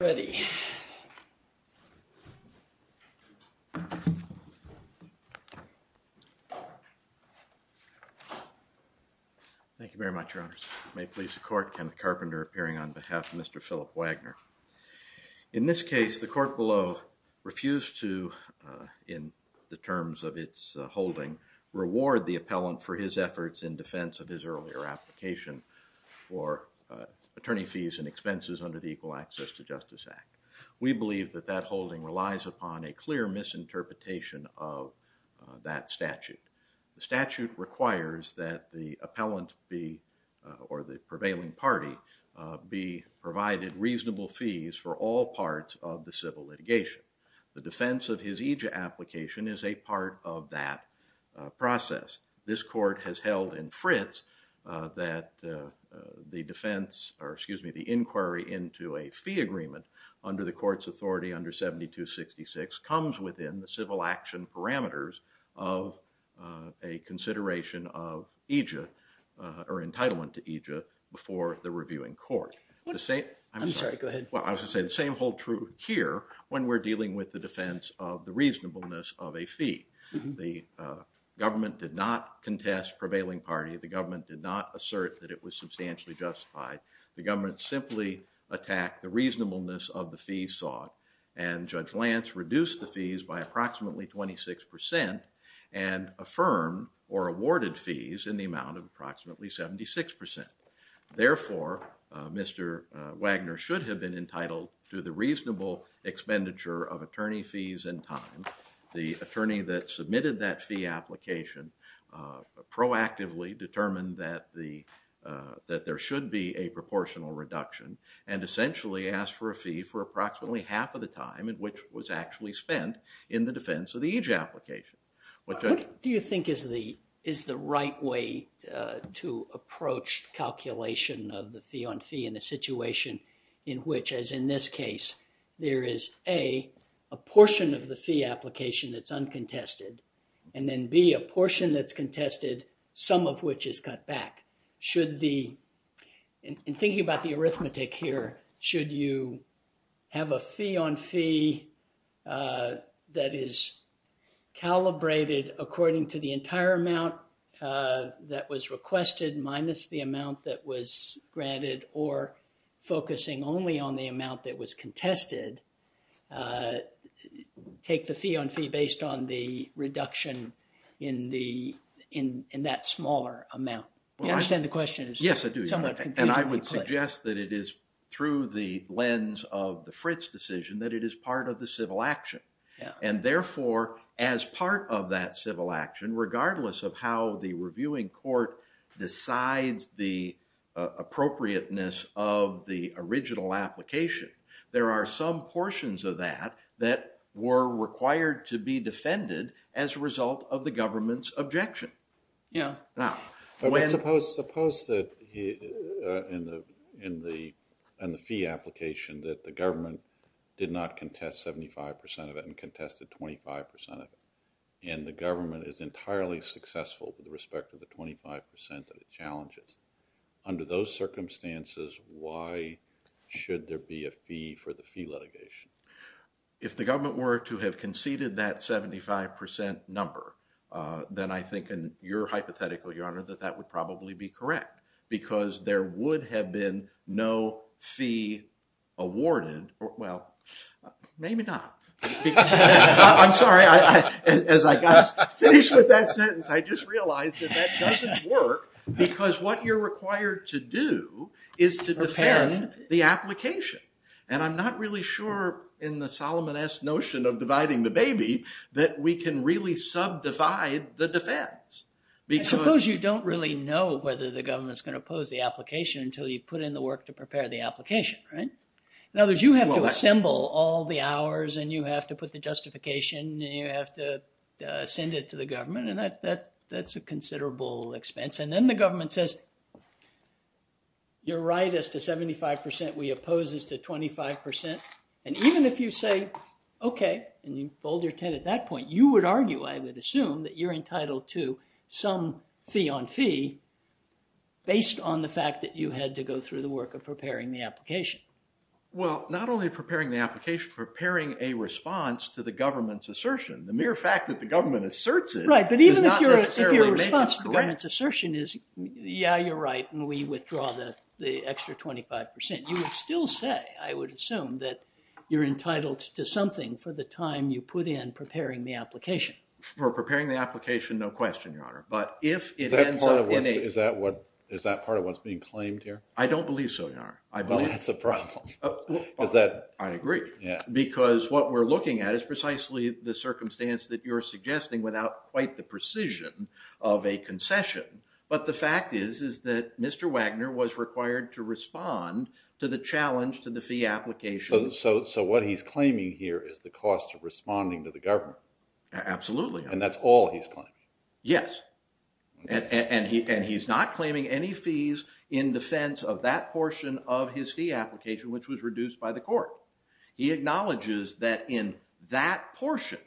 Thank you very much, your honors. May it please the court, Kenneth Carpenter appearing on behalf of Mr. Philip Wagner. In this case, the court below refused to, in the terms of its holding, reward the appellant for his efforts in defense of his earlier application for attorney fees and We believe that that holding relies upon a clear misinterpretation of that statute. The statute requires that the appellant be, or the prevailing party, be provided reasonable fees for all parts of the civil litigation. The defense of his eejit application is a part of that process. This court has held in Fritz that the defense, or excuse me, the inquiry into a fee agreement under the court's authority under 7266 comes within the civil action parameters of a consideration of eejit, or entitlement to eejit, before the reviewing court. I'm sorry, go ahead. Well, I was going to say the same hold true here when we're dealing with the defense of the reasonableness of a fee. The government did not contest prevailing party. The government did not assert that it was substantially justified. The government simply attacked the reasonableness of the fee sought, and Judge Lance reduced the fees by approximately 26 percent and affirmed or awarded fees in the amount of approximately 76 percent. Therefore, Mr. Wagner should have been entitled to the reasonable expenditure of attorney fees and time. The attorney that submitted that fee application proactively determined that there should be a proportional reduction and essentially asked for a fee for approximately half of the time which was actually spent in the defense of the eejit application. What do you think is the right way to approach calculation of the fee on fee in a A, a portion of the fee application that's uncontested, and then B, a portion that's contested, some of which is cut back? Should the, in thinking about the arithmetic here, should you have a fee on fee that is calibrated according to the entire amount that was requested minus the amount that was granted or focusing only on the amount that was contested, take the fee on fee based on the reduction in the, in that smaller amount? You understand the question? Yes, I do. And I would suggest that it is through the lens of the Fritz decision that it is part of the civil action. And therefore, as part of that civil action, regardless of how the reviewing court decides the appropriateness of the original application, there are some portions of that that were required to be defended as a result of the government's objection. Yeah. Now, suppose that in the fee application that the government did not contest 75 percent of it and contested 25 percent of it, and the government is entirely successful with respect to the 25 percent of the challenges. Under those circumstances, why should there be a fee for the fee litigation? If the government were to have conceded that 75 percent number, then I think in your hypothetical, Your Honor, that that would probably be correct because there would have been no fee awarded. Well, maybe not. I'm sorry. As I got finished with that sentence, I just realized that that is to defend the application. And I'm not really sure in the Solomonist notion of dividing the baby that we can really subdivide the defense. Suppose you don't really know whether the government's going to oppose the application until you've put in the work to prepare the application, right? In other words, you have to assemble all the hours, and you have to put the justification, and you have to send it to the government, and that's a considerable expense. Then the government says, you're right as to 75 percent. We oppose as to 25 percent. And even if you say, okay, and you fold your 10 at that point, you would argue, I would assume, that you're entitled to some fee on fee based on the fact that you had to go through the work of preparing the application. Well, not only preparing the application, preparing a response to the government's assertion. The mere fact that the government asserts it is not necessarily The response to the government's assertion is, yeah, you're right, and we withdraw the extra 25 percent. You would still say, I would assume, that you're entitled to something for the time you put in preparing the application. For preparing the application, no question, your honor. But if it ends up in a... Is that part of what's being claimed here? I don't believe so, your honor. Well, that's a problem. I agree. Because what we're looking at is precisely the circumstance that you're suggesting without quite the precision of a concession. But the fact is, is that Mr. Wagner was required to respond to the challenge to the fee application. So what he's claiming here is the cost of responding to the government. Absolutely. And that's all he's claiming. Yes. And he's not claiming any fees in defense of that portion of his fee application, which was reduced by the court. He acknowledges that in that portion,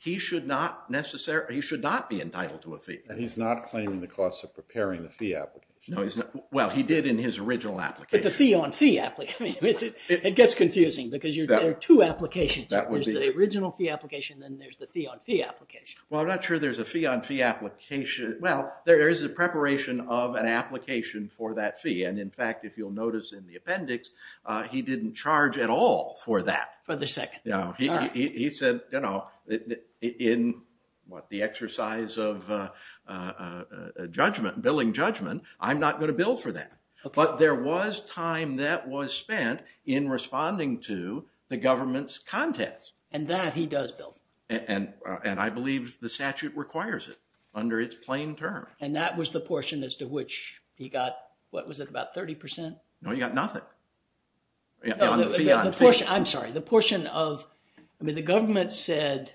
he should not necessarily, he should not be entitled to a fee. And he's not claiming the cost of preparing the fee application. No, he's not. Well, he did in his original application. But the fee on fee application, it gets confusing because there are two applications. That would be... There's the original fee application, then there's the fee on fee application. Well, I'm not sure there's a fee on fee application. Well, there is a preparation of an application for that fee. And in fact, if you'll notice in the appendix, he didn't charge at all for that. For the second. No, he said, you know, in what the exercise of judgment, billing judgment, I'm not going to bill for that. But there was time that was spent in responding to the government's contest. And that he does bill. And I believe the statute requires it under its plain term. And that was the portion as to which he got, what was it, about 30 percent? No, he got nothing. I'm sorry, the portion of... I mean, the government said,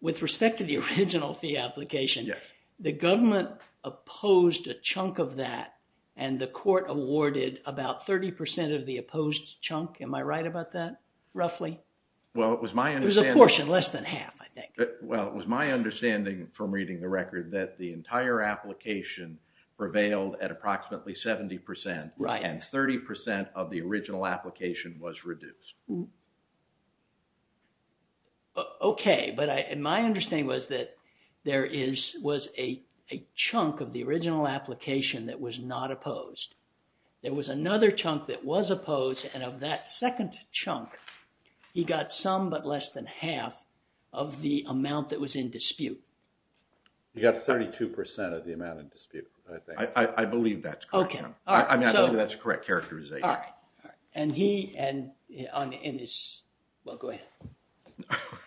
with respect to the original fee application, the government opposed a chunk of that. And the court awarded about 30 percent of the opposed chunk. Am I right about that, roughly? Well, it was my understanding... It was a portion, less than half, I think. Well, it was my understanding from reading the record that the entire application prevailed at approximately 70 percent. Right. And 30 percent of the original application was reduced. Okay. But my understanding was that there is, was a chunk of the original application that was not opposed. There was another chunk that was opposed. And of that second chunk, he got some but less than half of the amount that was in dispute. You got 32 percent of the amount in dispute, I think. I believe that's correct. Okay. I mean, I believe that's a correct characterization. All right. All right. And he, and in his... Well, go ahead.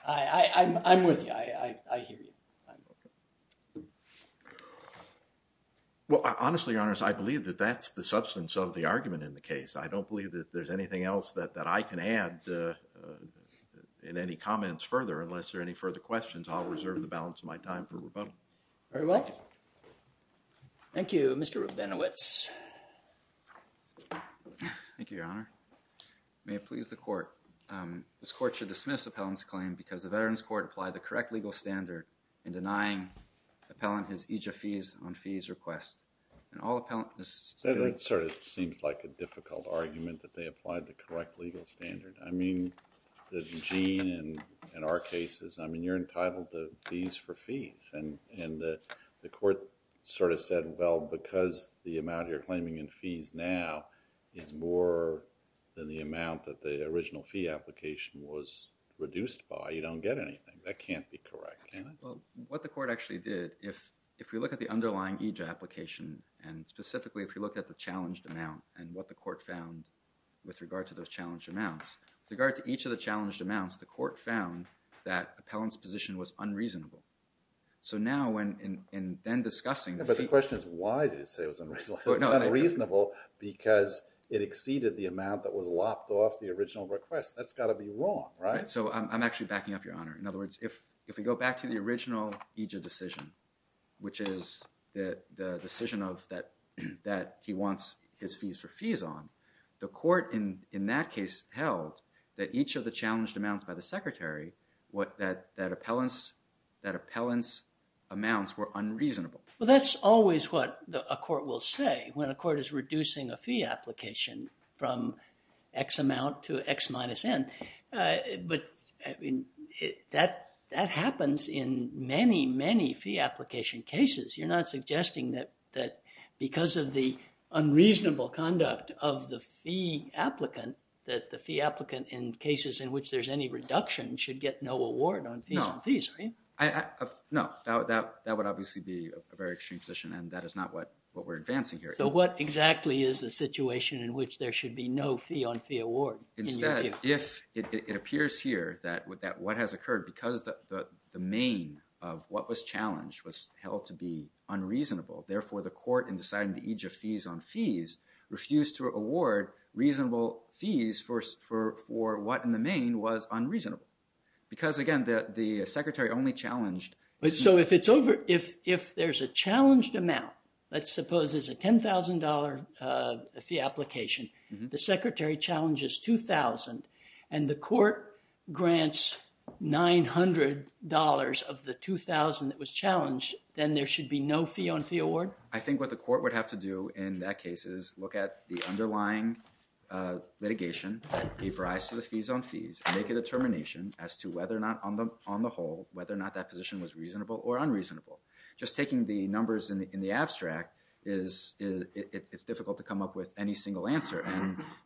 I'm with you. I hear you. Well, honestly, your honors, I believe that that's the substance of the argument in the case. I don't believe that there's anything else that I can add in any comments further. Unless there are any questions, I'll reserve the balance of my time for rebuttal. Very well. Thank you, Mr. Rabinowitz. Thank you, your honor. May it please the court. This court should dismiss Appellant's claim because the Veterans Court applied the correct legal standard in denying Appellant his EJF fees on fees request. And all Appellant... That sort of seems like a difficult argument that they applied the correct legal standard. I mean, the gene in our cases, you're entitled to fees for fees. And the court sort of said, well, because the amount you're claiming in fees now is more than the amount that the original fee application was reduced by, you don't get anything. That can't be correct, can it? Well, what the court actually did, if we look at the underlying EJF application, and specifically, if you look at the challenged amount and what the court found with regard to those challenged amounts, the court found that Appellant's position was unreasonable. So now, in then discussing... But the question is, why did it say it was unreasonable? It's not reasonable because it exceeded the amount that was lopped off the original request. That's got to be wrong, right? So I'm actually backing up, your honor. In other words, if we go back to the original EJF decision, which is the decision that he wants his fees for fees on, the court, in that case, held that each of the challenged amounts by the secretary, that Appellant's amounts were unreasonable. Well, that's always what a court will say when a court is reducing a fee application from X amount to X minus N. But that happens in many, many fee application cases. You're not saying that a fee applicant in cases in which there's any reduction should get no award on fees on fees, right? No, that would obviously be a very extreme position, and that is not what we're advancing here. So what exactly is the situation in which there should be no fee on fee award? Instead, if it appears here that what has occurred, because the main of what was challenged was held to be unreasonable, therefore the court, in deciding the EJF fees on fees, refused to award reasonable fees for what in the main was unreasonable. Because, again, the secretary only challenged... So if there's a challenged amount, let's suppose there's a $10,000 fee application, the secretary challenges $2,000, and the court grants $900 of the $2,000 that was challenged, then there should be no fee on fee award? I think what the court would have to do in that case is look at the underlying litigation, give rise to the fees on fees, and make a determination as to whether or not, on the whole, whether or not that position was reasonable or unreasonable. Just taking the numbers in the abstract, it's difficult to come up with any single answer,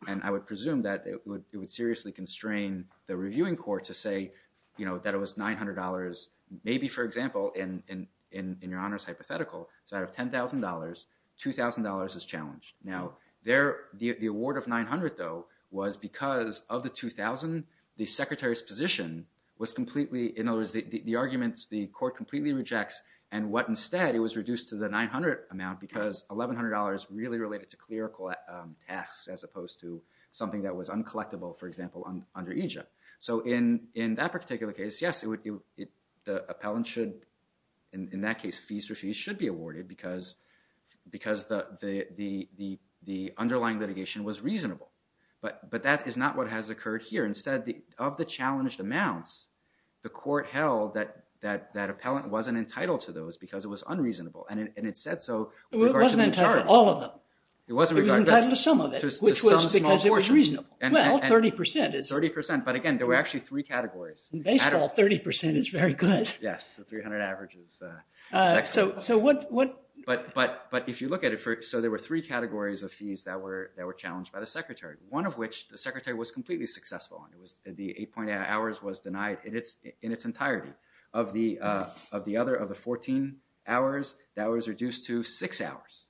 and I would presume that it would seriously constrain the reviewing court to say that it was $900. Maybe, for example, in your honor's hypothetical, so out of $10,000, $2,000 is challenged. Now, the award of $900, though, was because of the $2,000, the secretary's position was completely... In other words, the arguments, the court completely rejects, and what instead, it was reduced to the $900 amount, because $1,100 really related to clerical tasks, as opposed to something that was uncollectible, for example, under EJIP. So in that particular case, yes, the appellant should, in that case, fees for fees should be awarded, because the underlying litigation was reasonable, but that is not what has occurred here. Instead, of the challenged amounts, the court held that that appellant wasn't entitled to those, because it was unreasonable, and it said so with regard to the majority. It wasn't entitled to all of them. It was entitled to some of them, which was because it was reasonable. Well, 30% is... 30%, but again, there were actually three categories. Baseball, 30% is very good. Yes, the 300 average is excellent. So what... But if you look at it, so there were three categories of fees that were challenged by the secretary, one of which the secretary was completely successful, and the 8.8 hours was denied in its entirety. Of the 14 hours, that was reduced to six hours.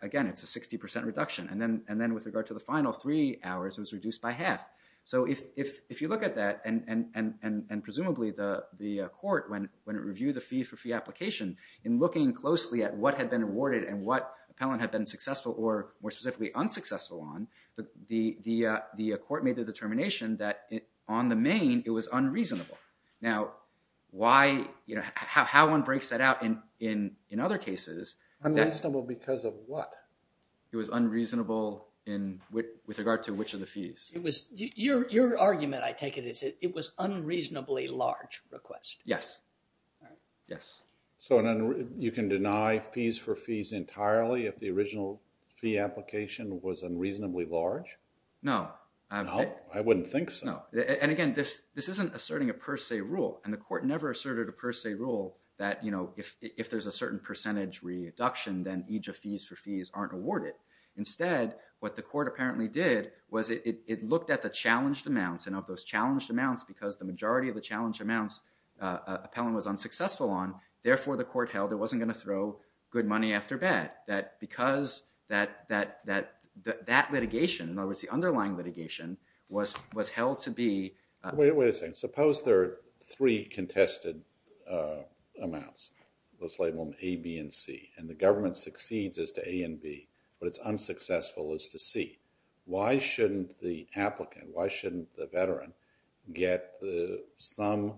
Again, it's a 60% reduction, and then with regard to the final three hours, it was reduced by half. So if you look at that, and presumably the court, when it reviewed the fee for fee application, in looking closely at what had been awarded and what appellant had been successful or, more specifically, unsuccessful on, the court made the determination that on the main, it was unreasonable. Now, how one breaks that out in other cases... Unreasonable because of what? It was unreasonable with regard to which of the fees? It was... Your argument, I take it, is it was unreasonably large request. Yes. Yes. So you can deny fees for fees entirely if the original fee application was unreasonably large? No. I wouldn't think so. And again, this isn't asserting a per se rule, and the court never asserted a per se rule that if there's a certain percentage reduction, then each of fees for fees aren't awarded. Instead, what the court apparently did was it looked at the challenged amounts, and of those challenged amounts, because the majority of the challenged amounts appellant was unsuccessful on, therefore the court held it wasn't going to throw good money after bad. Because that litigation, in other words, the underlying litigation, was held to be... Wait a second. Suppose there are three contested amounts, let's label them A, B, and C, and the government succeeds as to A and B, but it's unsuccessful as to C. Why shouldn't the applicant, why shouldn't the veteran get some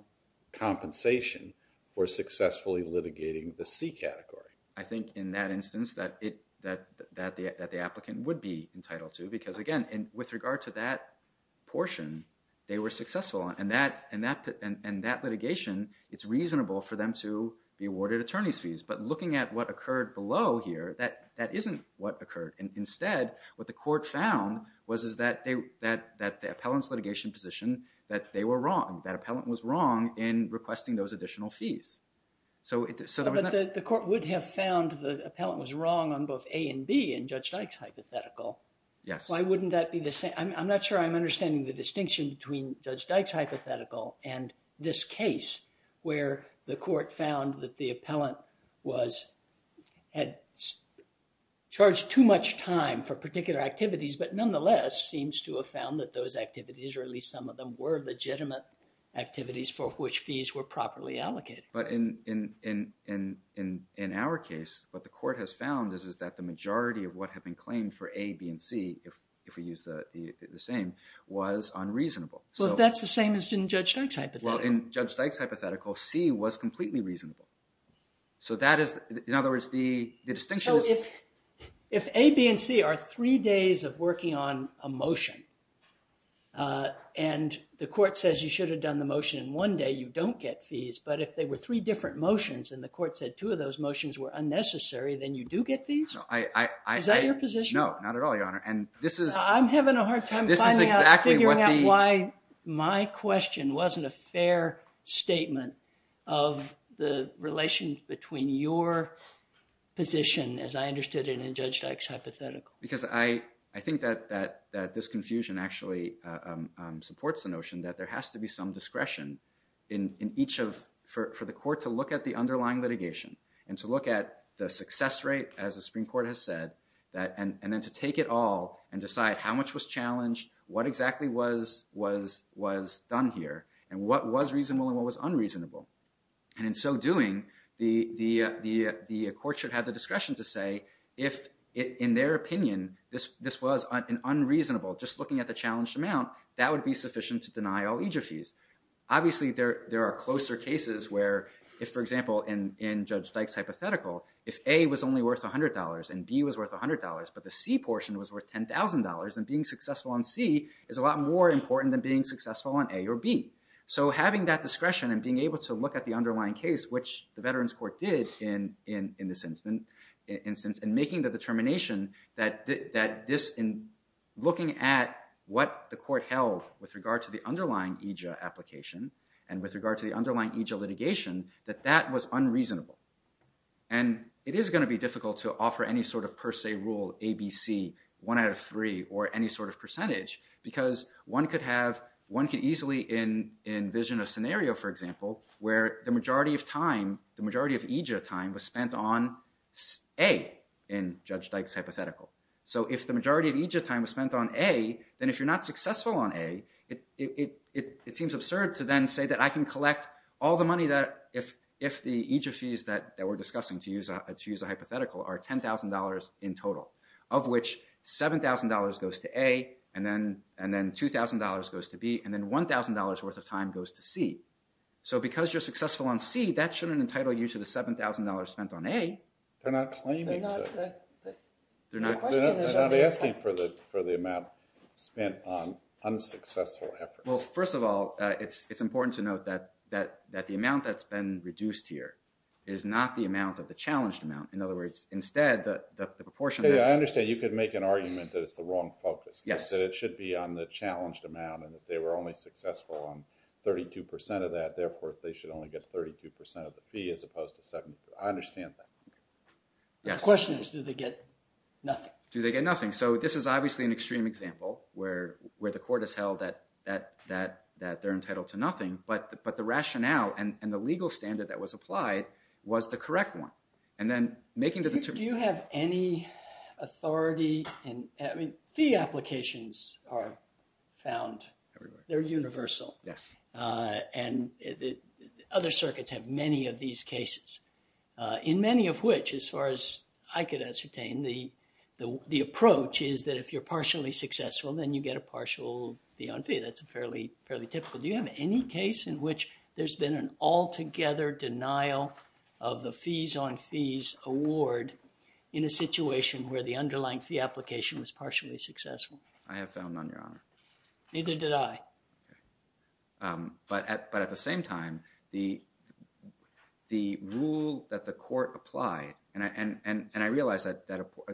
compensation for successfully litigating the C category? I think in that instance that the applicant would be entitled to, because again, with regard to that portion, they were successful, and that litigation, it's reasonable for them to be awarded attorney's fees. But looking at what occurred below here, that isn't what occurred. Instead, what the court found was that the appellant's litigation position, that they were wrong. That appellant was wrong in requesting those additional fees. But the court would have found the appellant was wrong on both A and B in Judge Dyke's hypothetical. Yes. I'm not sure I'm understanding the distinction between Judge Dyke's hypothetical and this case where the court found that the appellant had charged too much time for particular activities, but nonetheless seems to have found that those activities, or at least some of them, were legitimate activities for which fees were properly allocated. But in our case, what the court has found is that the majority of what had been claimed for A, B, and C, if we use the same, was unreasonable. Well, if that's the same as in Judge Dyke's hypothetical. Well, in Judge Dyke's hypothetical, C was completely reasonable. So that is, in other words, the distinction is... So if A, B, and C are three days of working on a motion, and the court says you should have done the motion in one day, you don't get fees, but if they were three different motions, and the court said two of those motions were unnecessary, then you do get fees? Is that your position? No, not at all, Your Honor. And this is... I'm having a hard time finding out, figuring out why my question wasn't a fair statement of the relation between your position, as I understood it, and Judge Dyke's hypothetical. Because I think that this confusion actually supports the notion that there has to be some discretion in each of... for the court to look at the underlying litigation, and to look at the success rate, as the Supreme Court has said, and then to take it all and decide how much was challenged, what exactly was done here, and what was reasonable and what was unreasonable. And in so doing, the court should have the discretion to say if, in their opinion, this was an unreasonable, just looking at the challenged amount, that would be sufficient to deny all aegis fees. Obviously, there are closer cases where if, for example, in Judge Dyke's hypothetical, if A was only worth $100, and B was worth $100, but the C portion was worth $10,000, then being successful on C is a lot more important than being successful on A or B. So having that discretion and being able to look at the underlying case, which the Veterans Court did in this instance, and making the determination that this, in looking at what the court held with regard to the underlying aegis application, and with regard to the underlying aegis litigation, that that was unreasonable. And it is going to be difficult to offer any sort of per se rule, A, B, C, one out of three, or any sort of percentage, because one could easily envision a scenario, for example, where the majority of time, the majority of aegis time was spent on A in Judge Dyke's hypothetical. So if the majority of aegis time was spent on A, then if you're not successful on A, it seems absurd to then say that I can collect all the money that if the aegis fees that we're discussing, to use a hypothetical, are $10,000 in total, of which $7,000 goes to A, and then $2,000 goes to B, and then $1,000 worth of time goes to C. So because you're successful on C, that shouldn't entitle you to the $7,000 spent on A. They're not claiming that. They're not asking for the amount spent on unsuccessful efforts. Well, first of all, it's important to note that the amount that's been reduced here is not the amount of the challenged amount. In other words, instead, the proportion that's- Yeah, I understand. You could make an argument that it's the wrong focus. Yes. That it should be on the challenged amount, and if they were only successful on 32% of that, therefore, they should only get 32% of the fee, as opposed to second. I understand that. Yes. The question is, do they get nothing? Do they get nothing? So this is obviously an extreme example where the court has held that they're entitled to nothing, but the rationale and the legal standard that was applied was the correct one. And then making the- Do you have any authority in... I mean, fee applications are found. Everywhere. They're universal. Yes. And other circuits have many of these cases, in many of which, as far as I could ascertain, the approach is that if you're partially successful, then you get a partial fee on fee. That's fairly typical. Do you have any case in which there's been an altogether denial of the fees on fees award in a situation where the underlying fee application was partially successful? I have found none, Your Honor. Neither did I. But at the same time, the rule that the court applied, and I realize that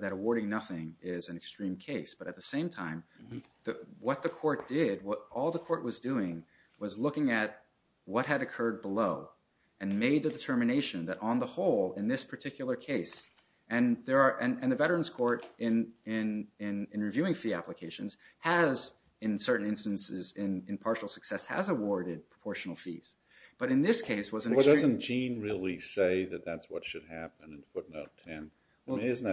awarding nothing is an extreme case, but at the same time, what the court did, what all the court was doing, was looking at what had occurred below and made the determination that on the whole, in this particular case, and the Veterans Court in reviewing fee applications has, in certain instances, in partial success, has awarded proportional fees. But in this case, it was an extreme- Well, doesn't Gene really say that that's what should happen in footnote 10? Isn't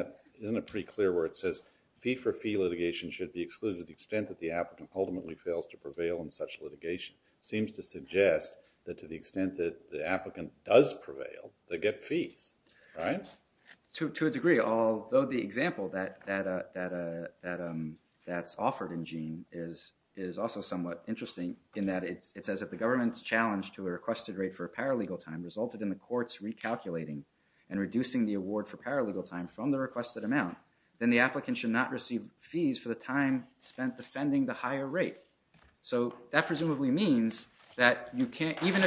it pretty clear where it says fee for fee litigation should be excluded to the extent that the applicant ultimately fails to prevail in such litigation? Seems to suggest that to the extent that the applicant does prevail, they get fees, right? To a degree. Although the example that's offered in Gene is also somewhat interesting in that it says that the government's challenge to a requested rate for a paralegal time resulted in the courts recalculating and reducing the award for paralegal time from the requested amount, then the applicant should not receive fees for the time spent defending the higher rate. So that presumably means that you can't, even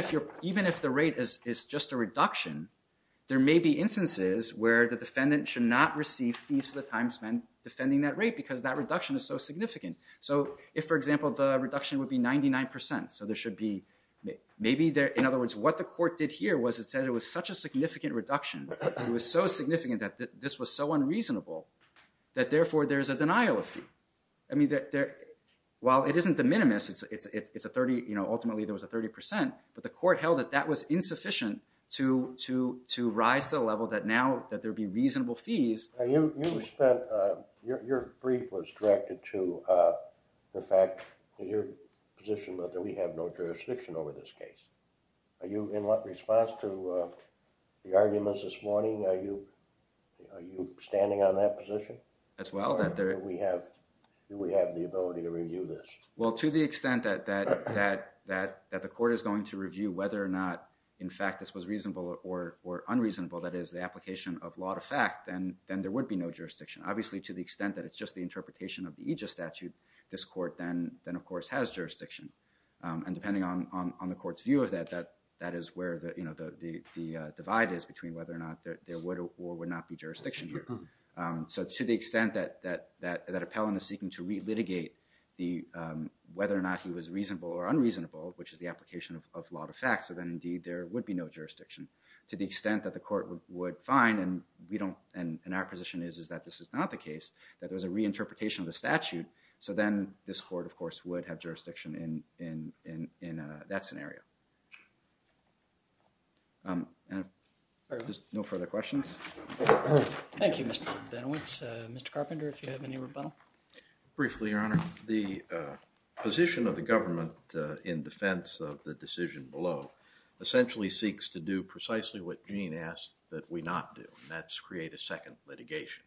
if the rate is just a reduction, there may be instances where the defendant should not receive fees for the time spent defending that rate because that reduction is so significant. So if, for example, the reduction would be 99%, so there should be, maybe, in other words, what the court did here was it said it was such a significant reduction, it was so significant that this was so unreasonable, that therefore there's a denial of fee. I mean, while it isn't de minimis, it's a 30, ultimately there was a 30%, but the court held that that was insufficient to rise to the level that now, that there'd be reasonable fees. Now, you spent, your brief was directed to the fact that your position was that we have no jurisdiction over this case. Are you, in response to the arguments this morning, are you standing on that position? As well, that there... Do we have the ability to review this? Well, to the extent that the court is going to review whether or not, in fact, this was reasonable or unreasonable, that is the application of law to fact, then there would be no jurisdiction. Obviously, to the extent that it's just the interpretation of the Aegis statute, this court then, of course, has jurisdiction. And depending on the court's view of that, that is where the divide is between whether or not there would or would not be jurisdiction here. So, to the extent that Appellant is seeking to re-litigate whether or not he was reasonable or unreasonable, which is the application of law to fact, so then, indeed, there would be no jurisdiction. To the extent that the court would find, and we don't, and our position is, is that this is not the case, that there was a reinterpretation of the statute, so then this court, of course, would have jurisdiction in that scenario. No further questions? Thank you, Mr. Benowitz. Mr. Carpenter, if you have any rebuttal? Briefly, Your Honor. The position of the government in defense of the decision below essentially seeks to do precisely what Gene asked that we not do, and that's create a second litigation.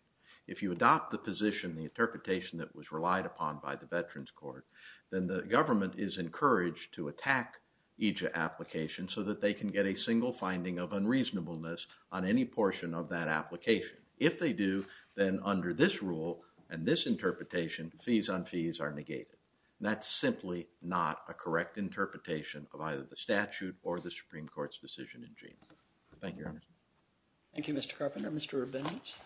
If you adopt the position, the interpretation that was relied upon by the Veterans Court, then the government is encouraged to attack each application so that they can get a single finding of unreasonableness on any portion of that application. If they do, then under this rule and this interpretation, fees on fees are negated. That's simply not a correct interpretation of either the statute or the Supreme Court's decision in Gene. Thank you, Your Honor. Thank you, Mr. Carpenter. Mr. Benowitz.